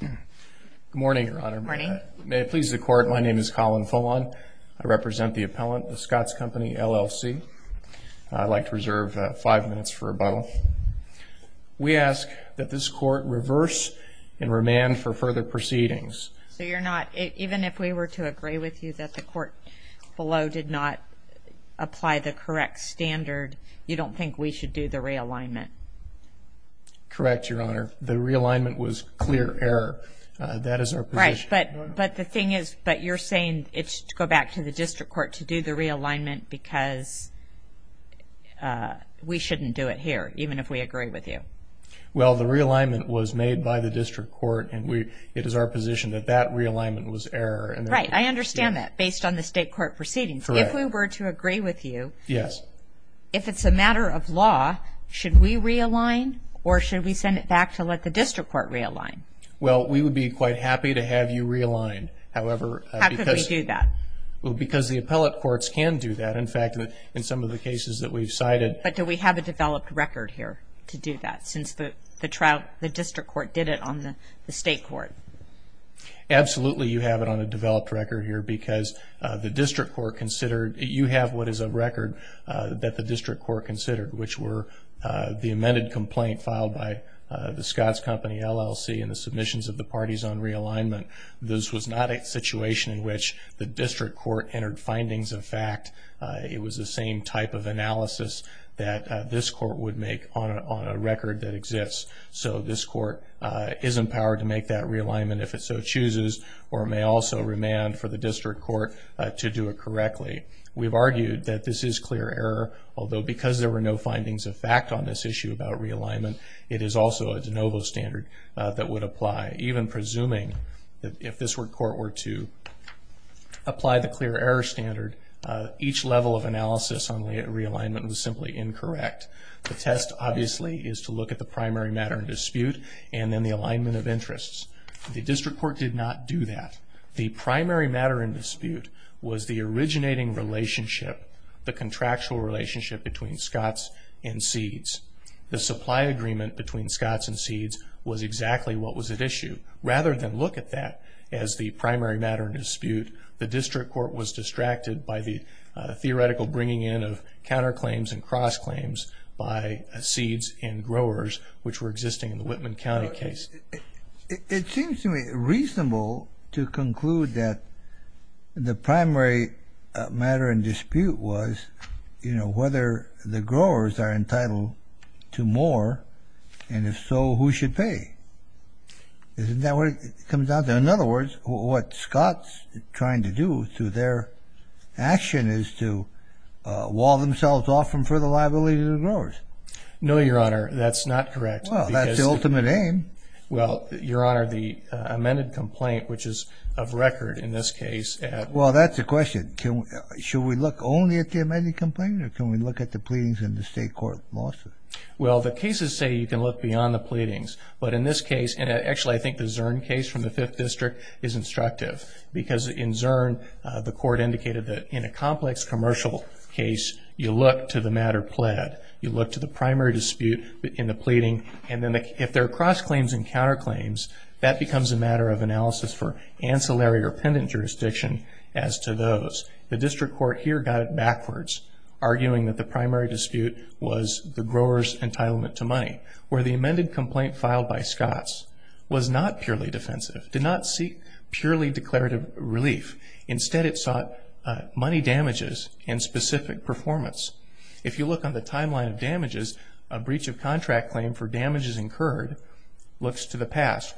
Good morning, Your Honor. Good morning. May it please the Court, my name is Colin Folon. I represent the appellant, the Scotts Company LLC. I'd like to reserve five minutes for rebuttal. We ask that this Court reverse and remand for further proceedings. Even if we were to agree with you that the court below did not apply the correct standard, you don't think we should do the realignment? Correct, Your Honor. The realignment was clear error. That is our position. Right, but the thing is, but you're saying it's to go back to the district court to do the realignment because we shouldn't do it here, even if we agree with you. Well, the realignment was made by the district court, and it is our position that that realignment was error. Right, I understand that, based on the state court proceedings. Correct. If we were to agree with you, if it's a matter of law, should we realign or should we send it back to let the district court realign? Well, we would be quite happy to have you realign. How could we do that? Well, because the appellate courts can do that. In fact, in some of the cases that we've cited. But do we have a developed record here to do that, since the district court did it on the state court? Absolutely, you have it on a developed record here because you have what is a record that the district court considered, which were the amended complaint filed by the Scotts Company LLC and the submissions of the parties on realignment. This was not a situation in which the district court entered findings of fact. It was the same type of analysis that this court would make on a record that exists. So this court is empowered to make that realignment if it so chooses, or it may also remand for the district court to do it correctly. We've argued that this is clear error, although because there were no findings of fact on this issue about realignment, it is also a de novo standard that would apply. Even presuming that if this court were to apply the clear error standard, each level of analysis on realignment was simply incorrect. The test, obviously, is to look at the primary matter in dispute and then the alignment of interests. The district court did not do that. The primary matter in dispute was the originating relationship, the contractual relationship between Scotts and Seeds. The supply agreement between Scotts and Seeds was exactly what was at issue. Rather than look at that as the primary matter in dispute, the district court was distracted by the theoretical bringing in of counterclaims and cross-claims by Seeds and growers, which were existing in the Whitman County case. It seems to me reasonable to conclude that the primary matter in dispute was, you know, whether the growers are entitled to more, and if so, who should pay. Isn't that what it comes down to? In other words, what Scotts is trying to do through their action is to wall themselves off from further liability to the growers. No, Your Honor, that's not correct. Well, that's the ultimate aim. Well, Your Honor, the amended complaint, which is of record in this case. Well, that's the question. Should we look only at the amended complaint, or can we look at the pleadings in the state court lawsuit? Well, the cases say you can look beyond the pleadings. But in this case, and actually I think the Zurn case from the 5th District is instructive because in Zurn, the court indicated that in a complex commercial case, you look to the matter pled. You look to the primary dispute in the pleading, and then if there are cross-claims and counter-claims, that becomes a matter of analysis for ancillary or pendent jurisdiction as to those. The District Court here got it backwards, arguing that the primary dispute was the growers' entitlement to money, where the amended complaint filed by Scotts was not purely defensive, did not seek purely declarative relief. Instead, it sought money damages and specific performance. If you look on the timeline of damages, a breach of contract claim for damages incurred looks to the past,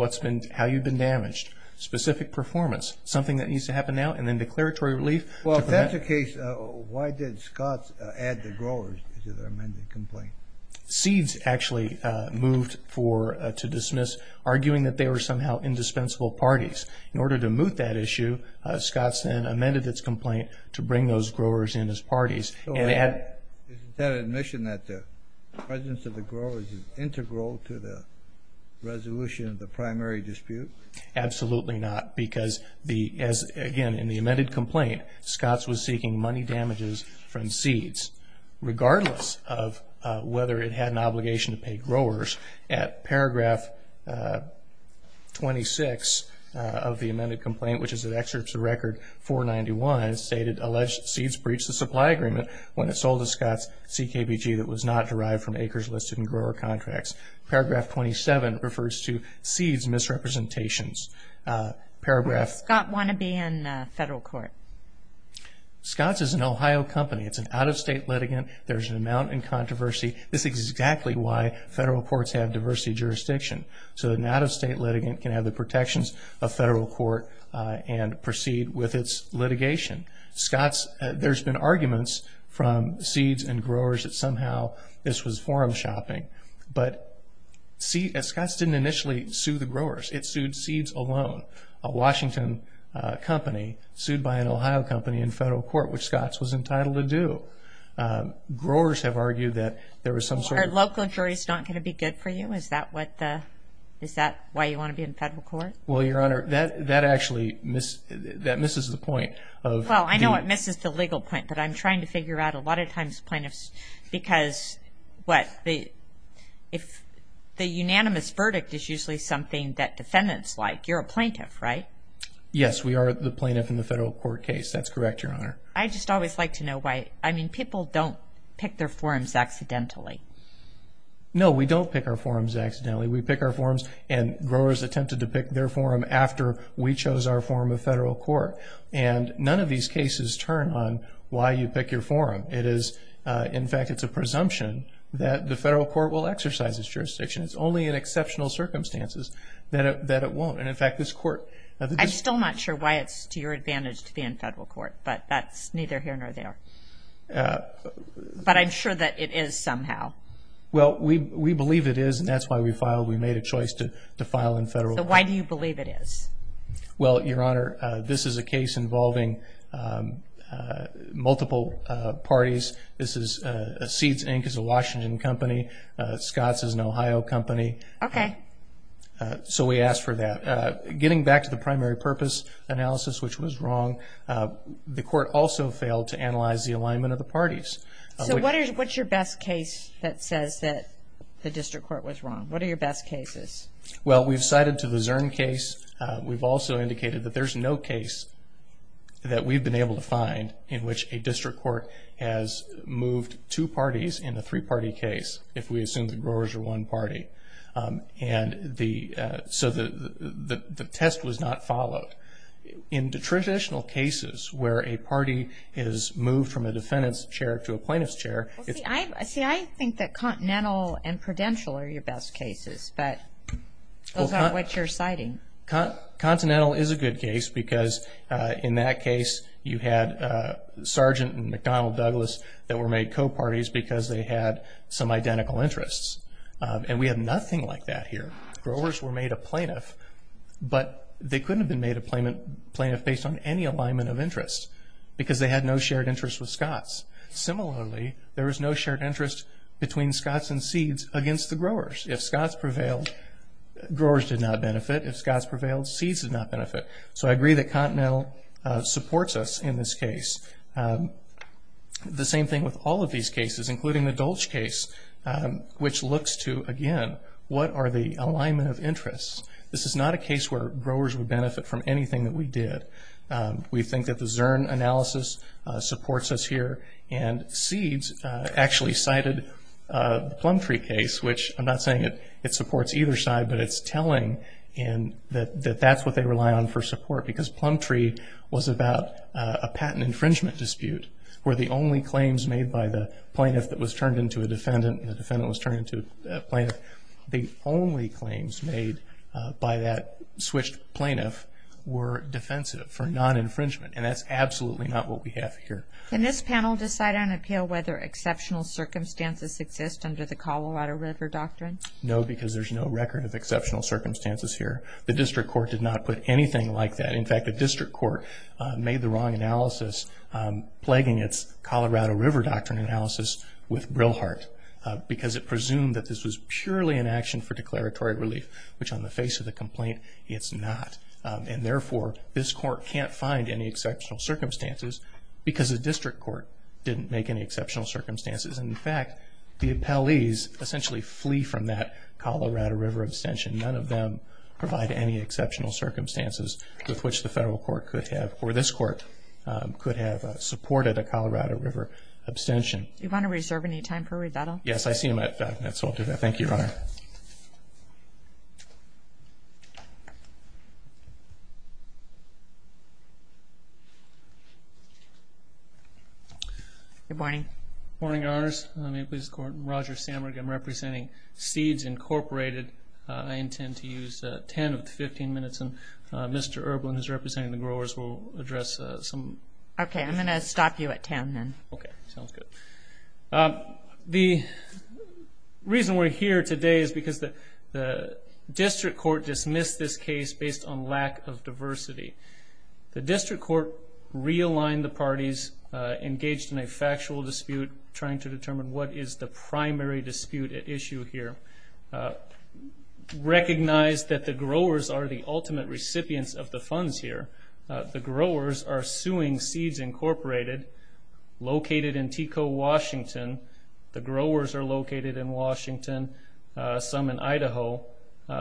how you've been damaged, specific performance, something that needs to happen now, and then declaratory relief. Well, if that's the case, why did Scotts add the growers to the amended complaint? Seeds actually moved to dismiss, arguing that they were somehow indispensable parties. In order to moot that issue, Scotts then amended its complaint to bring those growers in as parties. Isn't that admission that the presence of the growers is integral to the resolution of the primary dispute? Absolutely not, because, again, in the amended complaint, Scotts was seeking money damages from seeds, regardless of whether it had an obligation to pay growers. At paragraph 26 of the amended complaint, which is an excerpt to Record 491, it stated, alleged seeds breached the supply agreement when it sold to Scotts CKBG that was not derived from acres listed in grower contracts. Paragraph 27 refers to seeds misrepresentations. Does Scotts want to be in federal court? Scotts is an Ohio company. It's an out-of-state litigant. There's an amount in controversy. This is exactly why federal courts have diversity jurisdiction, so an out-of-state litigant can have the protections of federal court and proceed with its litigation. Scotts, there's been arguments from seeds and growers that somehow this was forum shopping, but Scotts didn't initially sue the growers. It sued seeds alone, a Washington company sued by an Ohio company in federal court, which Scotts was entitled to do. Growers have argued that there was some sort of... Are local juries not going to be good for you? Is that why you want to be in federal court? Well, Your Honor, that actually misses the point. Well, I know it misses the legal point, but I'm trying to figure out a lot of times plaintiffs because, what, the unanimous verdict is usually something that defendants like. You're a plaintiff, right? Yes, we are the plaintiff in the federal court case. That's correct, Your Honor. I just always like to know why. I mean, people don't pick their forums accidentally. No, we don't pick our forums accidentally. We pick our forums, and growers attempted to pick their forum after we chose our forum of federal court. And none of these cases turn on why you pick your forum. In fact, it's a presumption that the federal court will exercise its jurisdiction. It's only in exceptional circumstances that it won't. And, in fact, this court... I'm still not sure why it's to your advantage to be in federal court, but that's neither here nor there. But I'm sure that it is somehow. Well, we believe it is, and that's why we filed. We made a choice to file in federal court. So why do you believe it is? Well, Your Honor, this is a case involving multiple parties. This is Seeds, Inc. is a Washington company. Scotts is an Ohio company. Okay. So we asked for that. Getting back to the primary purpose analysis, which was wrong, the court also failed to analyze the alignment of the parties. So what's your best case that says that the district court was wrong? What are your best cases? Well, we've cited to the Zurn case. We've also indicated that there's no case that we've been able to find in which a district court has moved two parties in a three-party case, if we assume the growers are one party. And so the test was not followed. In the traditional cases where a party is moved from a defendant's chair to a plaintiff's chair. See, I think that Continental and Prudential are your best cases, but those aren't what you're citing. Continental is a good case because, in that case, you had Sergeant and McDonnell Douglas that were made co-parties because they had some identical interests. And we have nothing like that here. Growers were made a plaintiff, but they couldn't have been made a plaintiff based on any alignment of interest because they had no shared interest with Scots. Similarly, there was no shared interest between Scots and seeds against the growers. If Scots prevailed, growers did not benefit. If Scots prevailed, seeds did not benefit. So I agree that Continental supports us in this case. The same thing with all of these cases, including the Dolch case, which looks to, again, what are the alignment of interests. This is not a case where growers would benefit from anything that we did. We think that the Zurn analysis supports us here, and seeds actually cited the Plumtree case, which I'm not saying it supports either side, but it's telling that that's what they rely on for support because Plumtree was about a patent infringement dispute where the only claims made by the plaintiff that was turned into a defendant and the defendant was turned into a plaintiff, the only claims made by that switched plaintiff were defensive for non-infringement, and that's absolutely not what we have here. Can this panel decide on appeal whether exceptional circumstances exist under the Colorado River Doctrine? No, because there's no record of exceptional circumstances here. The district court did not put anything like that. In fact, the district court made the wrong analysis, plaguing its Colorado River Doctrine analysis with Brilhart, because it presumed that this was purely an action for declaratory relief, which on the face of the complaint, it's not. And therefore, this court can't find any exceptional circumstances because the district court didn't make any exceptional circumstances. In fact, the appellees essentially flee from that Colorado River abstention. None of them provide any exceptional circumstances with which the federal court could have or this court could have supported a Colorado River abstention. Do you want to reserve any time for rebuttal? Yes, I see you might have that, so I'll do that. Thank you, Your Honor. Good morning. Good morning, Your Honors. I'm Roger Sammerg. I'm representing Seeds Incorporated. I intend to use 10 of the 15 minutes, and Mr. Erblin, who's representing the growers, will address some of the questions. Okay, I'm going to stop you at 10 then. Okay, sounds good. The reason we're here today is because the district court dismissed this case based on lack of diversity. The district court realigned the parties engaged in a factual dispute trying to determine what is the primary dispute at issue here, recognized that the growers are the ultimate recipients of the funds here. The growers are suing Seeds Incorporated, located in Teco, Washington. The growers are located in Washington, some in Idaho.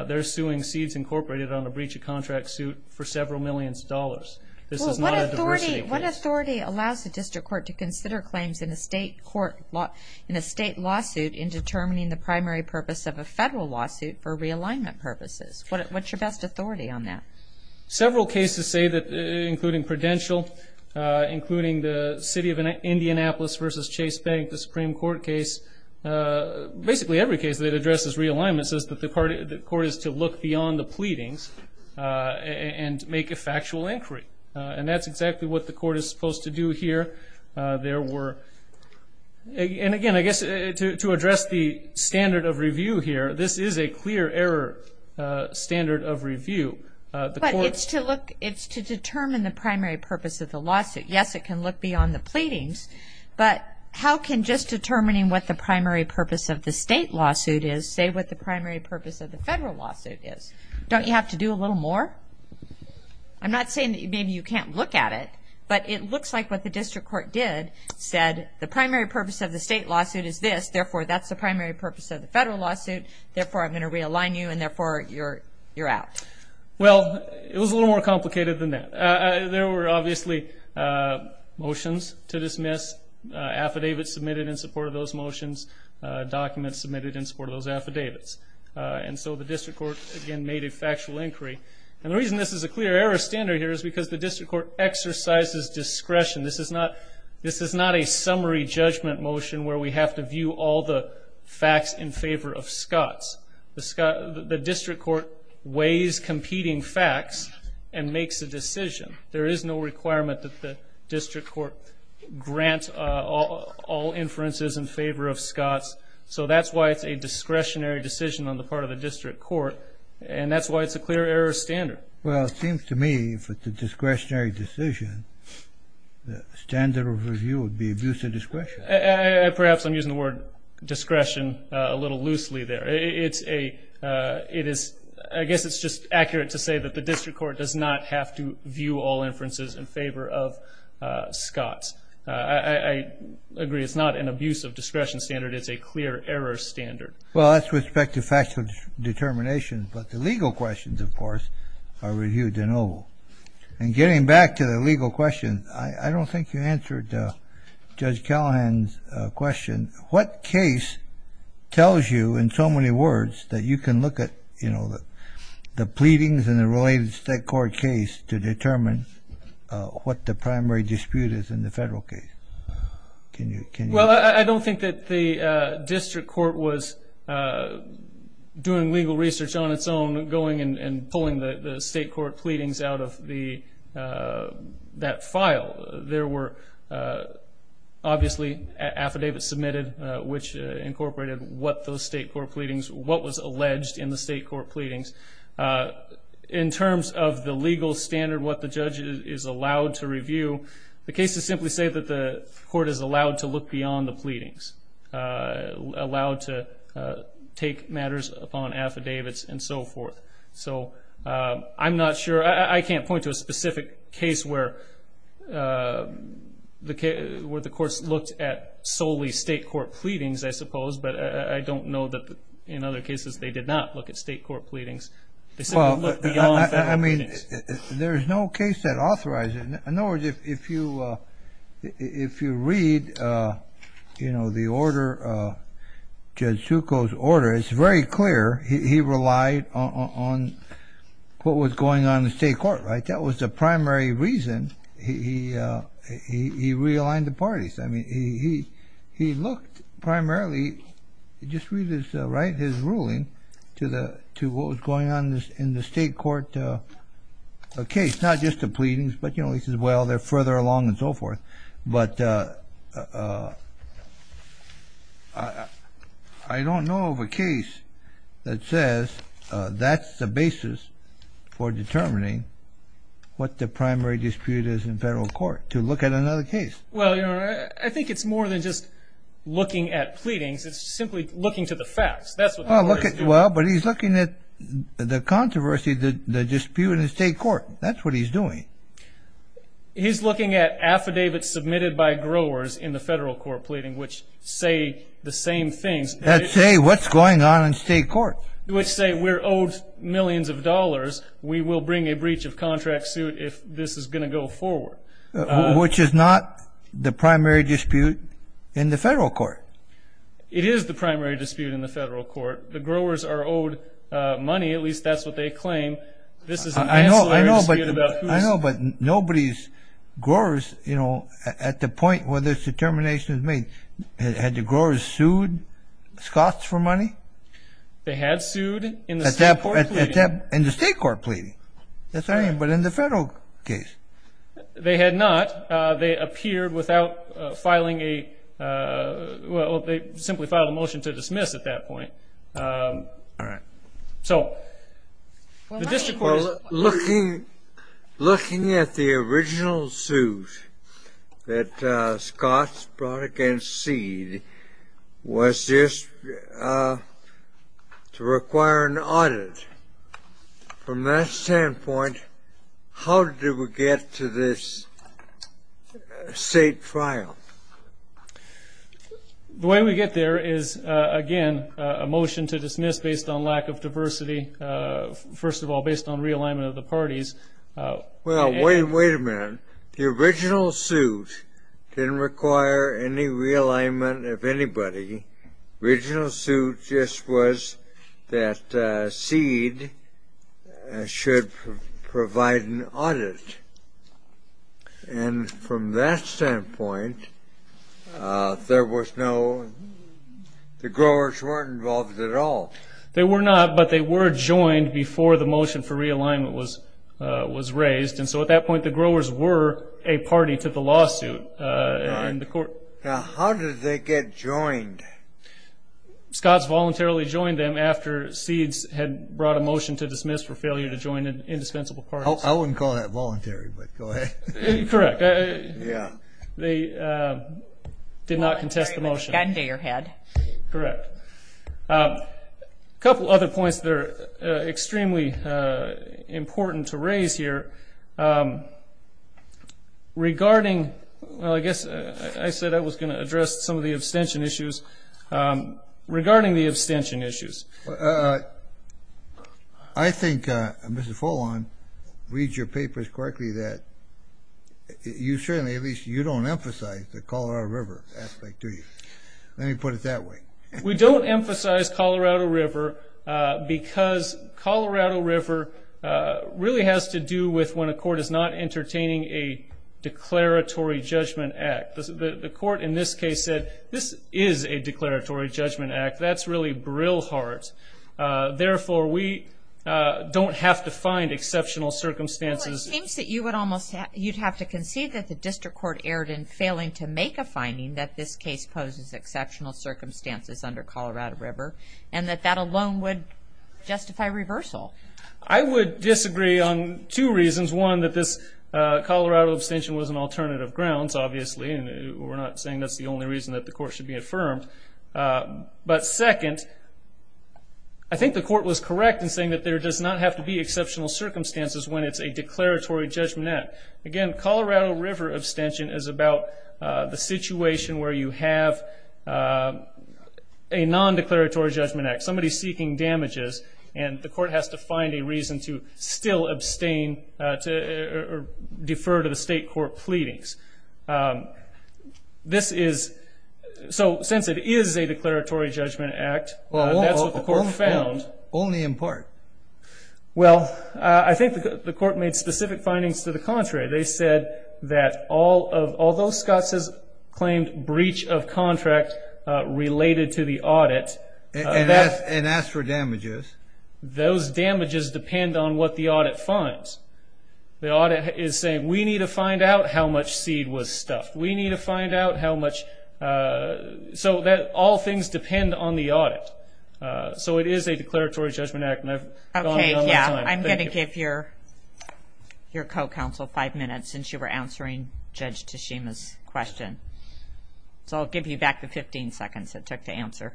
They're suing Seeds Incorporated on a breach of contract suit for several million dollars. This is not a diversity case. What authority allows the district court to consider claims in a state lawsuit in determining the primary purpose of a federal lawsuit for realignment purposes? What's your best authority on that? Several cases say that, including Prudential, including the city of Indianapolis versus Chase Bank, the Supreme Court case, basically every case that addresses realignment says that the court is to look beyond the pleadings and make a factual inquiry. And that's exactly what the court is supposed to do here. There were ñ and, again, I guess to address the standard of review here, this is a clear error standard of review. But it's to determine the primary purpose of the lawsuit. Yes, it can look beyond the pleadings, but how can just determining what the primary purpose of the state lawsuit is say what the primary purpose of the federal lawsuit is? Don't you have to do a little more? I'm not saying that maybe you can't look at it, but it looks like what the district court did said the primary purpose of the state lawsuit is this, therefore that's the primary purpose of the federal lawsuit, therefore I'm going to realign you, and therefore you're out. Well, it was a little more complicated than that. There were obviously motions to dismiss, affidavits submitted in support of those motions, documents submitted in support of those affidavits. And so the district court, again, made a factual inquiry. And the reason this is a clear error standard here is because the district court exercises discretion. This is not a summary judgment motion where we have to view all the facts in favor of Scotts. The district court weighs competing facts and makes a decision. There is no requirement that the district court grant all inferences in favor of Scotts, so that's why it's a discretionary decision on the part of the district court, and that's why it's a clear error standard. Well, it seems to me if it's a discretionary decision, the standard of review would be abuse of discretion. Perhaps I'm using the word discretion a little loosely there. I guess it's just accurate to say that the district court does not have to view all inferences in favor of Scotts. I agree it's not an abuse of discretion standard. It's a clear error standard. Well, that's with respect to factual determination, but the legal questions, of course, are reviewed in Oval. And getting back to the legal questions, I don't think you answered Judge Callahan's question. What case tells you in so many words that you can look at, you know, the pleadings in the related state court case to determine what the primary dispute is in the federal case? Well, I don't think that the district court was doing legal research on its own, going and pulling the state court pleadings out of that file. There were obviously affidavits submitted which incorporated what those state court pleadings, what was alleged in the state court pleadings. In terms of the legal standard, what the judge is allowed to review, the cases simply say that the court is allowed to look beyond the pleadings, allowed to take matters upon affidavits and so forth. So I'm not sure. I can't point to a specific case where the courts looked at solely state court pleadings, I suppose, but I don't know that in other cases they did not look at state court pleadings. They simply looked beyond federal pleadings. Well, I mean, there's no case that authorized it. In other words, if you read, you know, the order, Judge Zuko's order, it's very clear. He relied on what was going on in the state court, right? That was the primary reason he realigned the parties. I mean, he looked primarily, just read his ruling to what was going on in the state court case, not just the pleadings, but, you know, he says, well, they're further along and so forth. But I don't know of a case that says that's the basis for determining what the primary dispute is in federal court, to look at another case. Well, you know, I think it's more than just looking at pleadings. It's simply looking to the facts. That's what the court is doing. Well, but he's looking at the controversy, the dispute in the state court. That's what he's doing. He's looking at affidavits submitted by growers in the federal court pleading which say the same things. That say what's going on in state court. Which say we're owed millions of dollars. We will bring a breach of contract suit if this is going to go forward. Which is not the primary dispute in the federal court. It is the primary dispute in the federal court. The growers are owed money, at least that's what they claim. This is an ancillary dispute. I know, but nobody's growers, you know, at the point where this determination is made, had the growers sued Scotts for money? They had sued in the state court pleading. In the state court pleading. Yes, I am, but in the federal case. They had not. They appeared without filing a, well, they simply filed a motion to dismiss at that point. All right. So the district court is. Looking at the original suit that Scotts brought against Seed was just to require an audit. From that standpoint, how did we get to this state trial? The way we get there is, again, a motion to dismiss based on lack of diversity. First of all, based on realignment of the parties. Well, wait a minute. The original suit didn't require any realignment of anybody. The original suit just was that Seed should provide an audit. And from that standpoint, there was no, the growers weren't involved at all. They were not, but they were joined before the motion for realignment was raised, and so at that point the growers were a party to the lawsuit. All right. Now, how did they get joined? Scotts voluntarily joined them after Seed had brought a motion to dismiss for failure to join an indispensable party. I wouldn't call that voluntary, but go ahead. Correct. Yeah. They did not contest the motion. Got into your head. Correct. A couple other points that are extremely important to raise here. Regarding, well, I guess I said I was going to address some of the abstention issues. Regarding the abstention issues. I think, Mr. Fullon, read your papers correctly that you certainly, at least you don't emphasize the Colorado River aspect, do you? Let me put it that way. We don't emphasize Colorado River because Colorado River really has to do with when a court is not entertaining a declaratory judgment act. The court in this case said, this is a declaratory judgment act. That's really Brillhart. Therefore, we don't have to find exceptional circumstances. Well, it seems that you would almost, you'd have to concede that the district court erred in failing to make a finding that this case poses exceptional circumstances under Colorado River, and that that alone would justify reversal. I would disagree on two reasons. One, that this Colorado abstention was an alternative grounds, obviously, and we're not saying that's the only reason that the court should be affirmed. But second, I think the court was correct in saying that there does not have to be exceptional circumstances when it's a declaratory judgment act. Again, Colorado River abstention is about the situation where you have a nondeclaratory judgment act. Somebody's seeking damages, and the court has to find a reason to still abstain or defer to the state court pleadings. This is, so since it is a declaratory judgment act, that's what the court found. Only in part. Well, I think the court made specific findings to the contrary. They said that although Scott has claimed breach of contract related to the audit. And asked for damages. Those damages depend on what the audit finds. The audit is saying, we need to find out how much seed was stuffed. We need to find out how much, so that all things depend on the audit. So it is a declaratory judgment act. Okay, yeah. I'm going to give your co-counsel five minutes since you were answering Judge Tashima's question. So I'll give you back the 15 seconds it took to answer.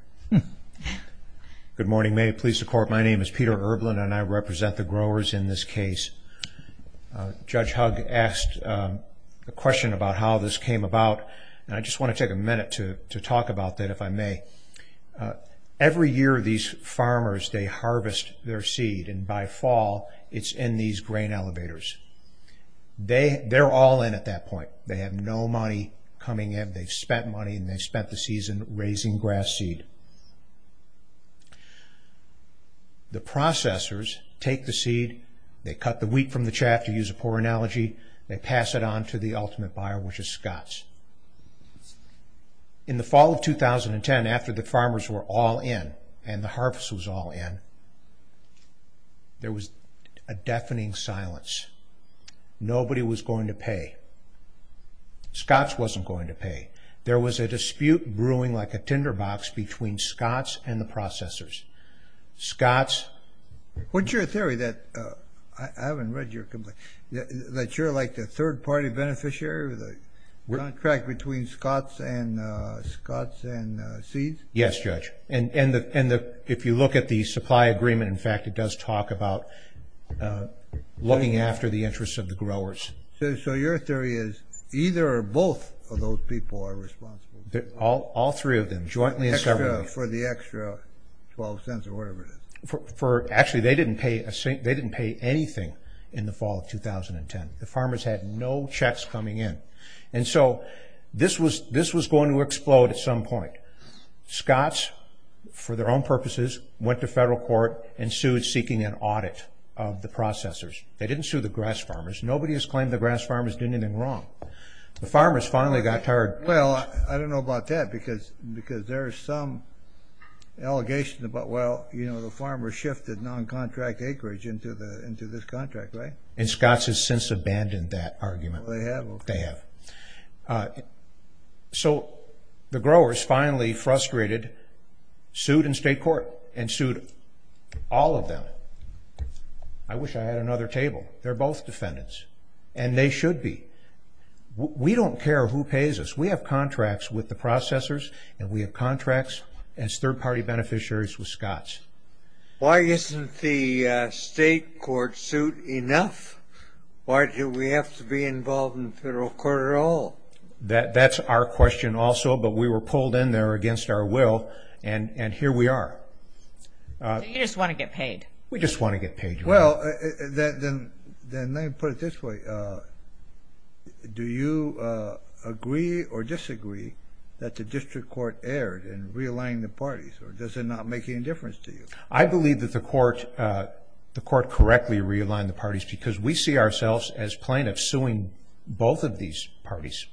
Good morning, may it please the court. My name is Peter Erblin, and I represent the growers in this case. Judge Hug asked a question about how this came about, and I just want to take a minute to talk about that, if I may. Every year, these farmers, they harvest their seed, and by fall, it's in these grain elevators. They're all in at that point. They have no money coming in. They've spent money, and they've spent the season raising grass seed. The processors take the seed. They cut the wheat from the chaff, to use a poor analogy. They pass it on to the ultimate buyer, which is Scott's. In the fall of 2010, after the farmers were all in, and the harvest was all in, there was a deafening silence. Nobody was going to pay. Scott's wasn't going to pay. There was a dispute brewing like a tinderbox between Scott's and the processors. What's your theory? I haven't read your complaint. That you're like the third-party beneficiary, the contract between Scott's and seeds? Yes, Judge. If you look at the supply agreement, in fact, it does talk about looking after the interests of the growers. So your theory is either or both of those people are responsible? All three of them, jointly as government. For the extra 12 cents or whatever it is. Actually, they didn't pay anything in the fall of 2010. The farmers had no checks coming in. And so this was going to explode at some point. Scott's, for their own purposes, went to federal court and sued, seeking an audit of the processors. They didn't sue the grass farmers. Nobody has claimed the grass farmers did anything wrong. The farmers finally got tired. Well, I don't know about that, because there is some allegation about, well, you know, the farmers shifted non-contract acreage into this contract, right? And Scott's has since abandoned that argument. They have? They have. So the growers finally frustrated, sued in state court, and sued all of them. I wish I had another table. They're both defendants, and they should be. We don't care who pays us. We have contracts with the processors, and we have contracts as third-party beneficiaries with Scott's. Why isn't the state court suit enough? Why do we have to be involved in the federal court at all? That's our question also, but we were pulled in there against our will, and here we are. So you just want to get paid. We just want to get paid. Well, then let me put it this way. Do you agree or disagree that the district court erred in realigning the parties, or does it not make any difference to you? I believe that the court correctly realigned the parties, because we see ourselves as plaintiffs suing both of these parties.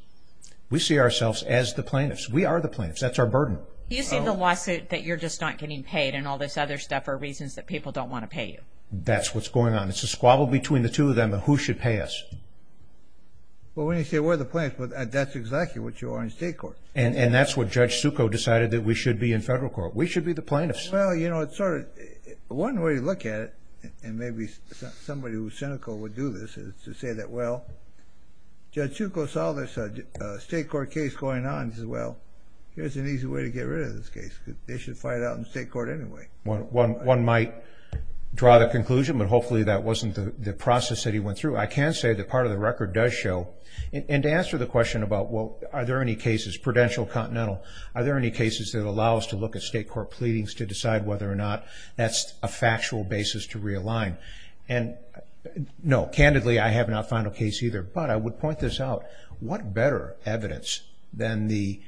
We see ourselves as the plaintiffs. We are the plaintiffs. That's our burden. Do you see the lawsuit that you're just not getting paid and all this other stuff are reasons that people don't want to pay you? That's what's going on. It's a squabble between the two of them of who should pay us. Well, when you say we're the plaintiffs, that's exactly what you are in state court. And that's what Judge Succo decided that we should be in federal court. We should be the plaintiffs. Well, you know, one way to look at it, and maybe somebody who's cynical would do this, is to say that, well, Judge Succo saw this state court case going on. He says, well, here's an easy way to get rid of this case. They should fight it out in state court anyway. One might draw the conclusion, but hopefully that wasn't the process that he went through. I can say that part of the record does show, and to answer the question about, well, are there any cases, prudential, continental, are there any cases that allow us to look at state court pleadings to decide whether or not that's a factual basis to realign. And, no, candidly, I have not found a case either. But I would point this out. What better evidence than the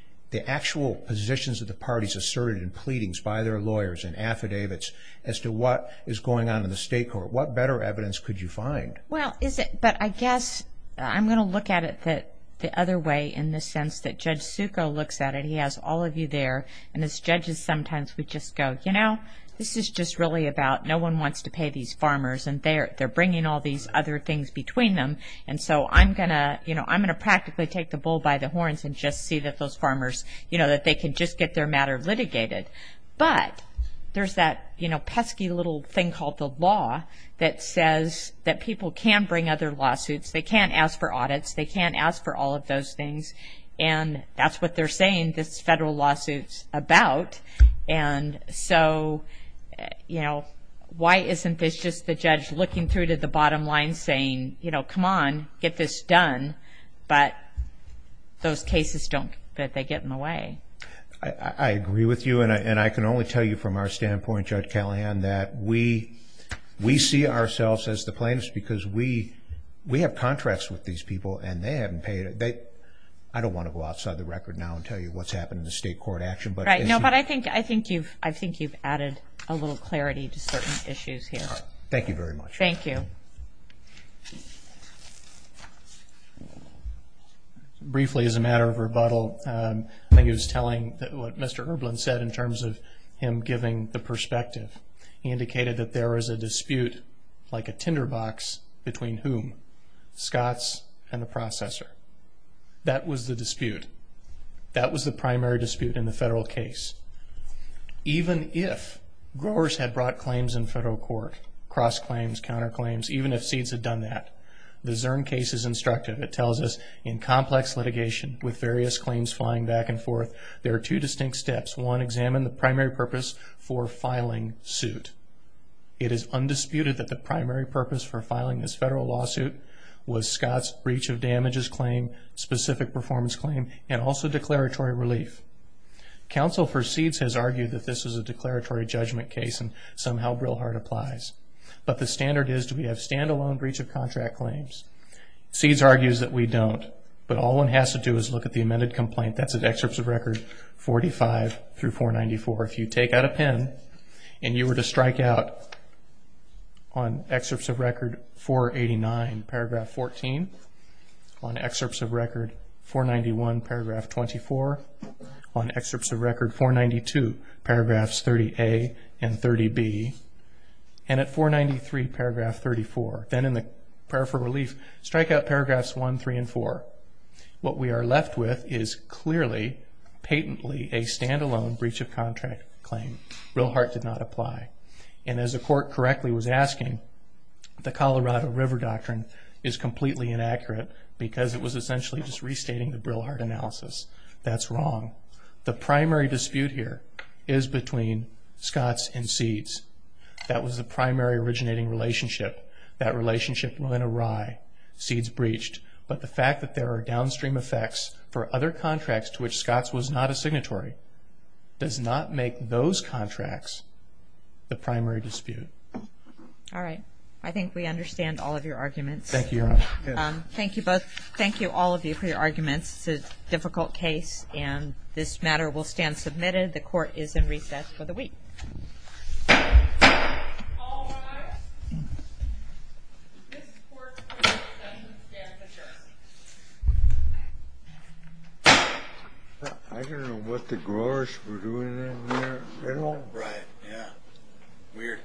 actual positions of the parties asserted in pleadings by their lawyers and affidavits as to what is going on in the state court? What better evidence could you find? Well, but I guess I'm going to look at it the other way in the sense that Judge Succo looks at it. He has all of you there, and as judges sometimes we just go, you know, this is just really about no one wants to pay these farmers, and they're bringing all these other things between them. And so I'm going to, you know, I'm going to practically take the bull by the horns and just see that those farmers, you know, that they can just get their matter litigated. But there's that, you know, pesky little thing called the law that says that people can bring other lawsuits. They can't ask for audits. They can't ask for all of those things. And that's what they're saying this federal lawsuit's about. And so, you know, why isn't this just the judge looking through to the bottom line saying, you know, come on, get this done, but those cases don't get in the way. I agree with you, and I can only tell you from our standpoint, Judge Callahan, that we see ourselves as the plaintiffs because we have contracts with these people, and they haven't paid it. I don't want to go outside the record now and tell you what's happened in the state court action. Right. No, but I think you've added a little clarity to certain issues here. Thank you very much. Thank you. Briefly, as a matter of rebuttal, I think it was telling what Mr. Erblin said in terms of him giving the perspective. He indicated that there is a dispute like a tinderbox between whom? Scots and the processor. That was the dispute. That was the primary dispute in the federal case. Even if growers had brought claims in federal court, cross-claims, counter-claims, even if seeds had done that, the Zurn case is instructive. It tells us in complex litigation with various claims flying back and forth, there are two distinct steps. One, examine the primary purpose for filing suit. It is undisputed that the primary purpose for filing this federal lawsuit was Scott's breach of damages claim, specific performance claim, and also declaratory relief. Counsel for seeds has argued that this is a declaratory judgment case and somehow Brilhart applies. But the standard is do we have stand-alone breach of contract claims? Seeds argues that we don't, but all one has to do is look at the amended complaint. That's at excerpts of record 45 through 494. If you take out a pen and you were to strike out on excerpts of record 489, paragraph 14, on excerpts of record 491, paragraph 24, on excerpts of record 492, paragraphs 30A and 30B, and at 493, paragraph 34, then in the prayer for relief, strike out paragraphs 1, 3, and 4. What we are left with is clearly, patently a stand-alone breach of contract claim. Brilhart did not apply. And as the court correctly was asking, the Colorado River Doctrine is completely inaccurate because it was essentially just restating the Brilhart analysis. That's wrong. The primary dispute here is between Scott's and Seeds. That was the primary originating relationship. That relationship went awry. Seeds breached. But the fact that there are downstream effects for other contracts to which Scott's was not a signatory does not make those contracts the primary dispute. All right. I think we understand all of your arguments. Thank you, Your Honor. Thank you both. Thank you, all of you, for your arguments. It's a difficult case, and this matter will stand submitted. The court is in recess for the week. All rise. I don't know what the growers were doing in there at all. Right. Yeah. Weird.